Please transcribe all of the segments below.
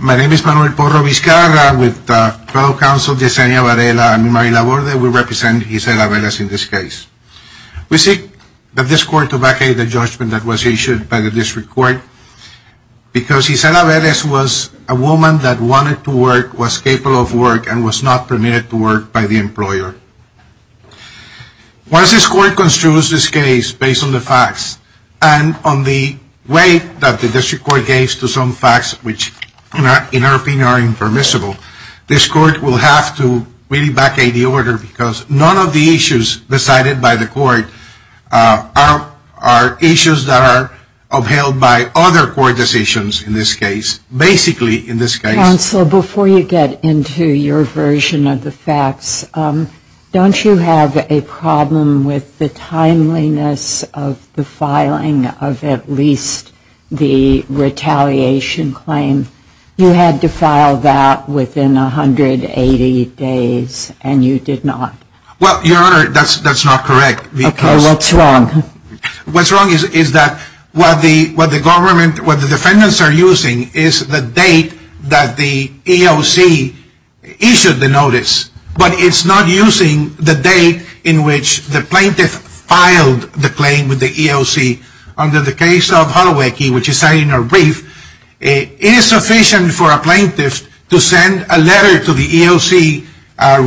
My name is Manuel Porro Vizcarra. With the federal counsel, Yesenia Varela and Mary Laborde, we represent Isela Velez in this case. We seek that this court to vacate the judgment that was issued by the district court because Isela Velez was a woman that wanted to work, was capable of work, and was not permitted to work by the employer. Once this court construes this case based on the facts and on the way that the district court gave to some facts which in our opinion are impermissible, this court will have to vacate the order because none of the issues decided by the court are issues that are upheld by other court decisions in this case. Counsel, before you get into your version of the facts, don't you have a problem with the timeliness of the filing of at least the retaliation claim? You had to file that within 180 days and you did not. Well, Your Honor, that's not correct. Okay, what's wrong? What's wrong is that what the government, what the defendants are using is the date that the EOC issued the notice, but it's not using the date in which the plaintiff filed the claim with the EOC. Under the case of Holowicki, which is cited in our brief, it is sufficient for a plaintiff to send a letter to the EOC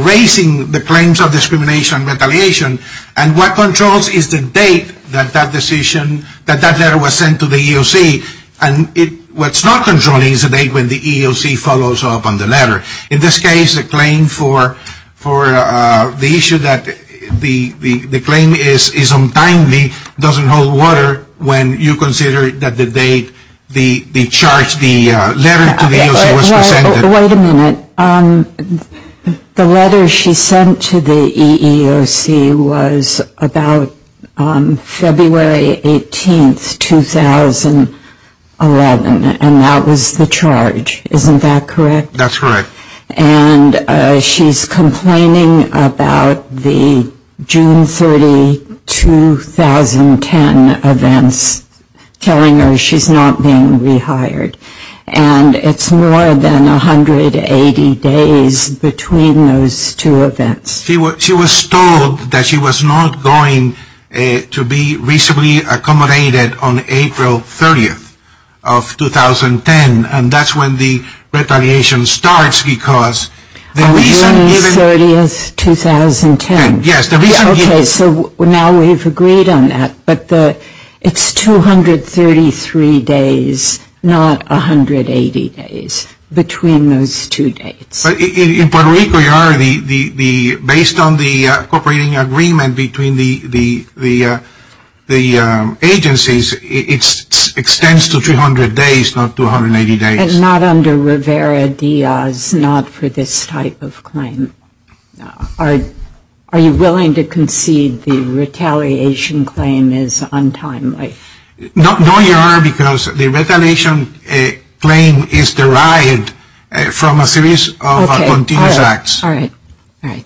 raising the claims of discrimination retaliation, and what controls is the date that that decision, that that letter was sent to the EOC, and what's not controlling is the date when the EOC follows up on the letter. In this case, the claim for the issue that the claim is untimely doesn't hold water when you consider that the date, the charge, the letter to the EOC was presented. Wait a minute. The letter she sent to the EEOC was about February 18, 2011, and that was the charge. Isn't that correct? That's correct. And she's complaining about the June 30, 2010 events, telling her she's not being rehired, and it's more than 180 days between those two events. She was told that she was not going to be reasonably accommodated on April 30, 2010, and that's when the retaliation starts because the reason given... April 30, 2010. Yes, the reason given... Okay, so now we've agreed on that, but it's 233 days, not 180 days between those two dates. In Puerto Rico, Your Honor, based on the cooperating agreement between the agencies, it extends to 300 days, not 280 days. And not under Rivera-Diaz, not for this type of claim. Are you willing to concede the retaliation claim is untimely? No, Your Honor, because the retaliation claim is derived from a series of continuous acts. All right. All right.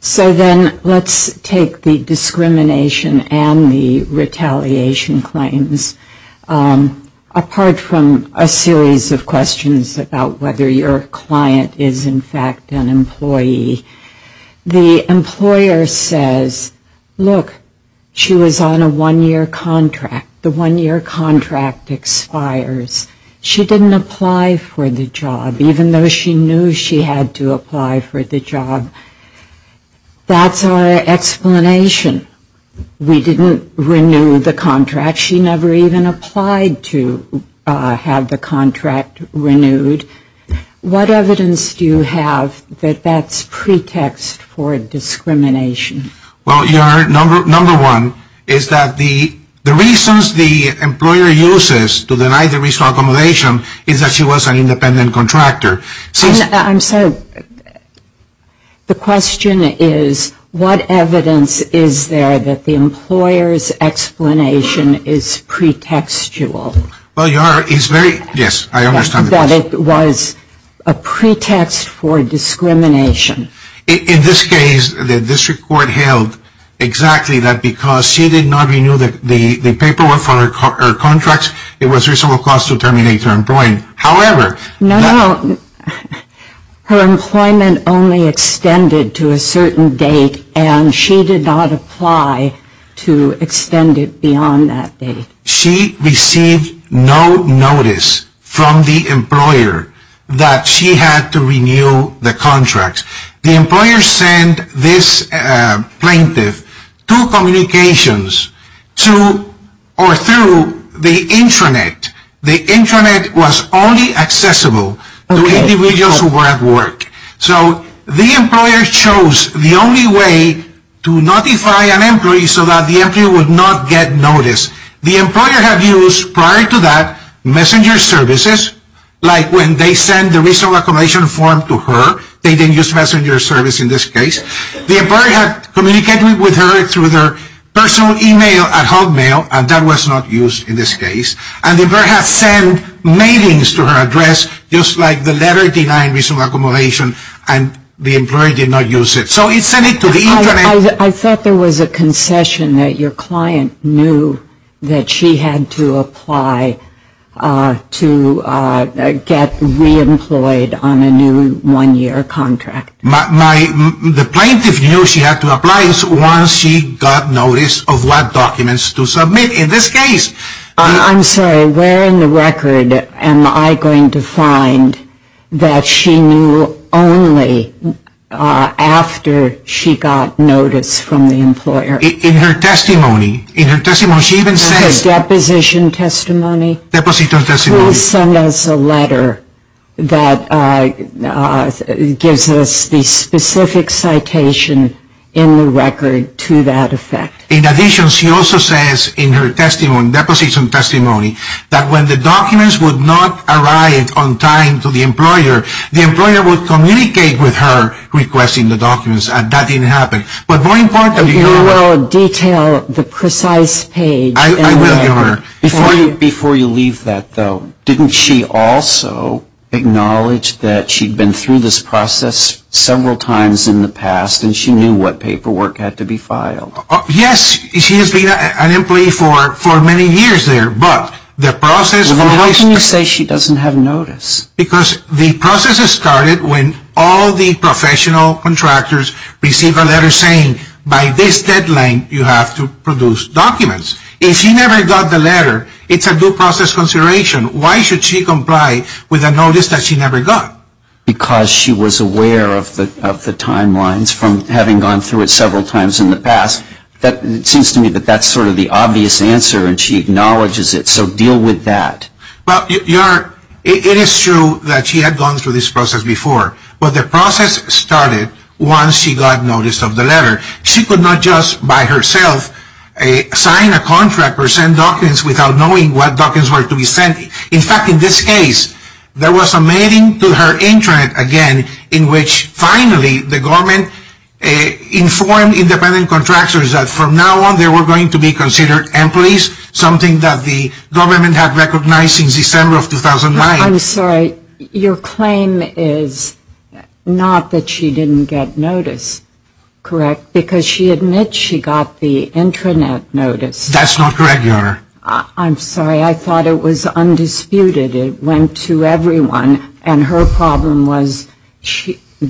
So then let's take the discrimination and the retaliation claims. Apart from a series of questions about whether your client is in fact an employee, the employer says, look, she was on a one-year contract. The one-year contract expires. She didn't apply for the job, even though she knew she had to apply for the job. That's our explanation. We didn't renew the contract. She never even applied to have the contract renewed. What evidence do you have that that's pretext for discrimination? Well, Your Honor, number one is that the reasons the employer uses to deny the reasonable accommodation is that she was an independent contractor. I'm sorry. The question is, what evidence is there that the employer's explanation is pretextual? Well, Your Honor, it's very, yes, I understand the question. That it was a pretext for discrimination. In this case, the district court held exactly that because she did not renew the paperwork for her contracts, it was reasonable cause to terminate her employment. No, no, her employment only extended to a certain date and she did not apply to extend it beyond that date. She received no notice from the employer that she had to renew the contracts. The employer sent this plaintiff two communications to or through the intranet. The intranet was only accessible to individuals who were at work. So the employer chose the only way to notify an employee so that the employee would not get notice. The employer had used prior to that messenger services, like when they sent the reasonable accommodation form to her. They didn't use messenger service in this case. The employer had communicated with her through their personal email at Hotmail and that was not used in this case. And the employer had sent mailings to her address just like the letter denying reasonable accommodation and the employer did not use it. So it sent it to the intranet. I thought there was a concession that your client knew that she had to apply to get reemployed on a new one-year contract. The plaintiff knew she had to apply once she got notice of what documents to submit. I'm sorry, where in the record am I going to find that she knew only after she got notice from the employer? In her testimony. In her deposition testimony? Please send us a letter that gives us the specific citation in the record to that effect. In addition, she also says in her deposition testimony that when the documents would not arrive on time to the employer, the employer would communicate with her requesting the documents and that didn't happen. But more importantly. You will detail the precise page. I will give her. Before you leave that though, didn't she also acknowledge that she had been through this process several times in the past and she knew what paperwork had to be filed? Yes, she has been an employee for many years there. How can you say she doesn't have notice? Because the process started when all the professional contractors received a letter saying by this deadline you have to produce documents. If she never got the letter, it's a due process consideration. Why should she comply with a notice that she never got? Because she was aware of the timelines from having gone through it several times in the past. It seems to me that that's sort of the obvious answer and she acknowledges it. So deal with that. It is true that she had gone through this process before. But the process started once she got notice of the letter. She could not just by herself sign a contract or send documents without knowing what documents were to be sent. In fact, in this case, there was a mating to her intranet again in which finally the government informed independent contractors that from now on they were going to be considered employees, something that the government had recognized since December of 2009. I'm sorry, your claim is not that she didn't get notice, correct? Because she admits she got the intranet notice. That's not correct, Your Honor. I'm sorry. I thought it was undisputed. It went to everyone. And her problem was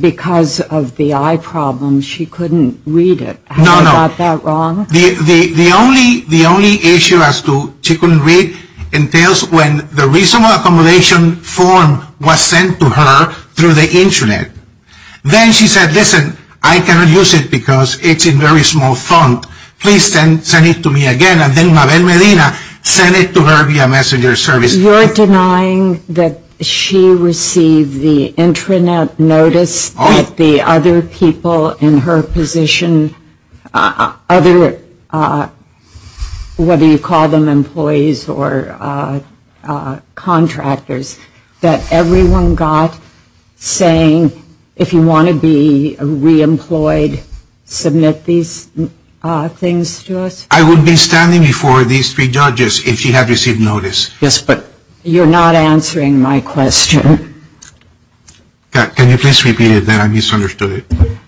because of the eye problem, she couldn't read it. Have you got that wrong? No, no. The only issue as to she couldn't read entails when the reasonable accommodation form was sent to her through the intranet. Then she said, listen, I cannot use it because it's a very small font. Please send it to me again. And then Mabel Medina sent it to her via messenger service. You're denying that she received the intranet notice that the other people in her position, whether you call them employees or contractors, that everyone got saying, if you want to be re-employed, submit these things to us. I would be standing before these three judges if she had received notice. Yes, but you're not answering my question. Can you please repeat it then? I misunderstood it.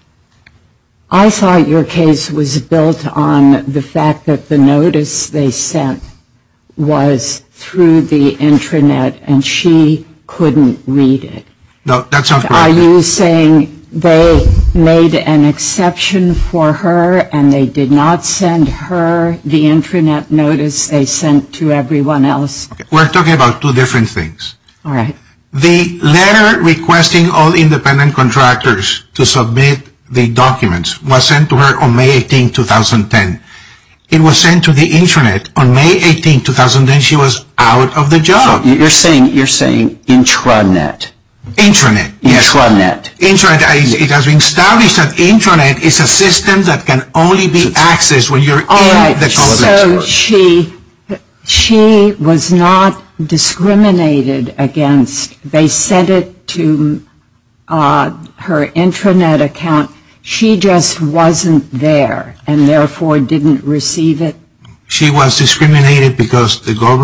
I thought your case was built on the fact that the notice they sent was through the intranet and she couldn't read it. No, that sounds correct. Are you saying they made an exception for her and they did not send her the intranet notice they sent to everyone else? We're talking about two different things. All right. The letter requesting all independent contractors to submit the documents was sent to her on May 18, 2010. It was sent to the intranet on May 18, 2010. She was out of the job. You're saying intranet. Intranet, yes. Intranet. Intranet. It has been established that intranet is a system that can only be accessed when you're in the complex. All right. So she was not discriminated against. They sent it to her intranet account. She just wasn't there and, therefore, didn't receive it. She was discriminated because the government...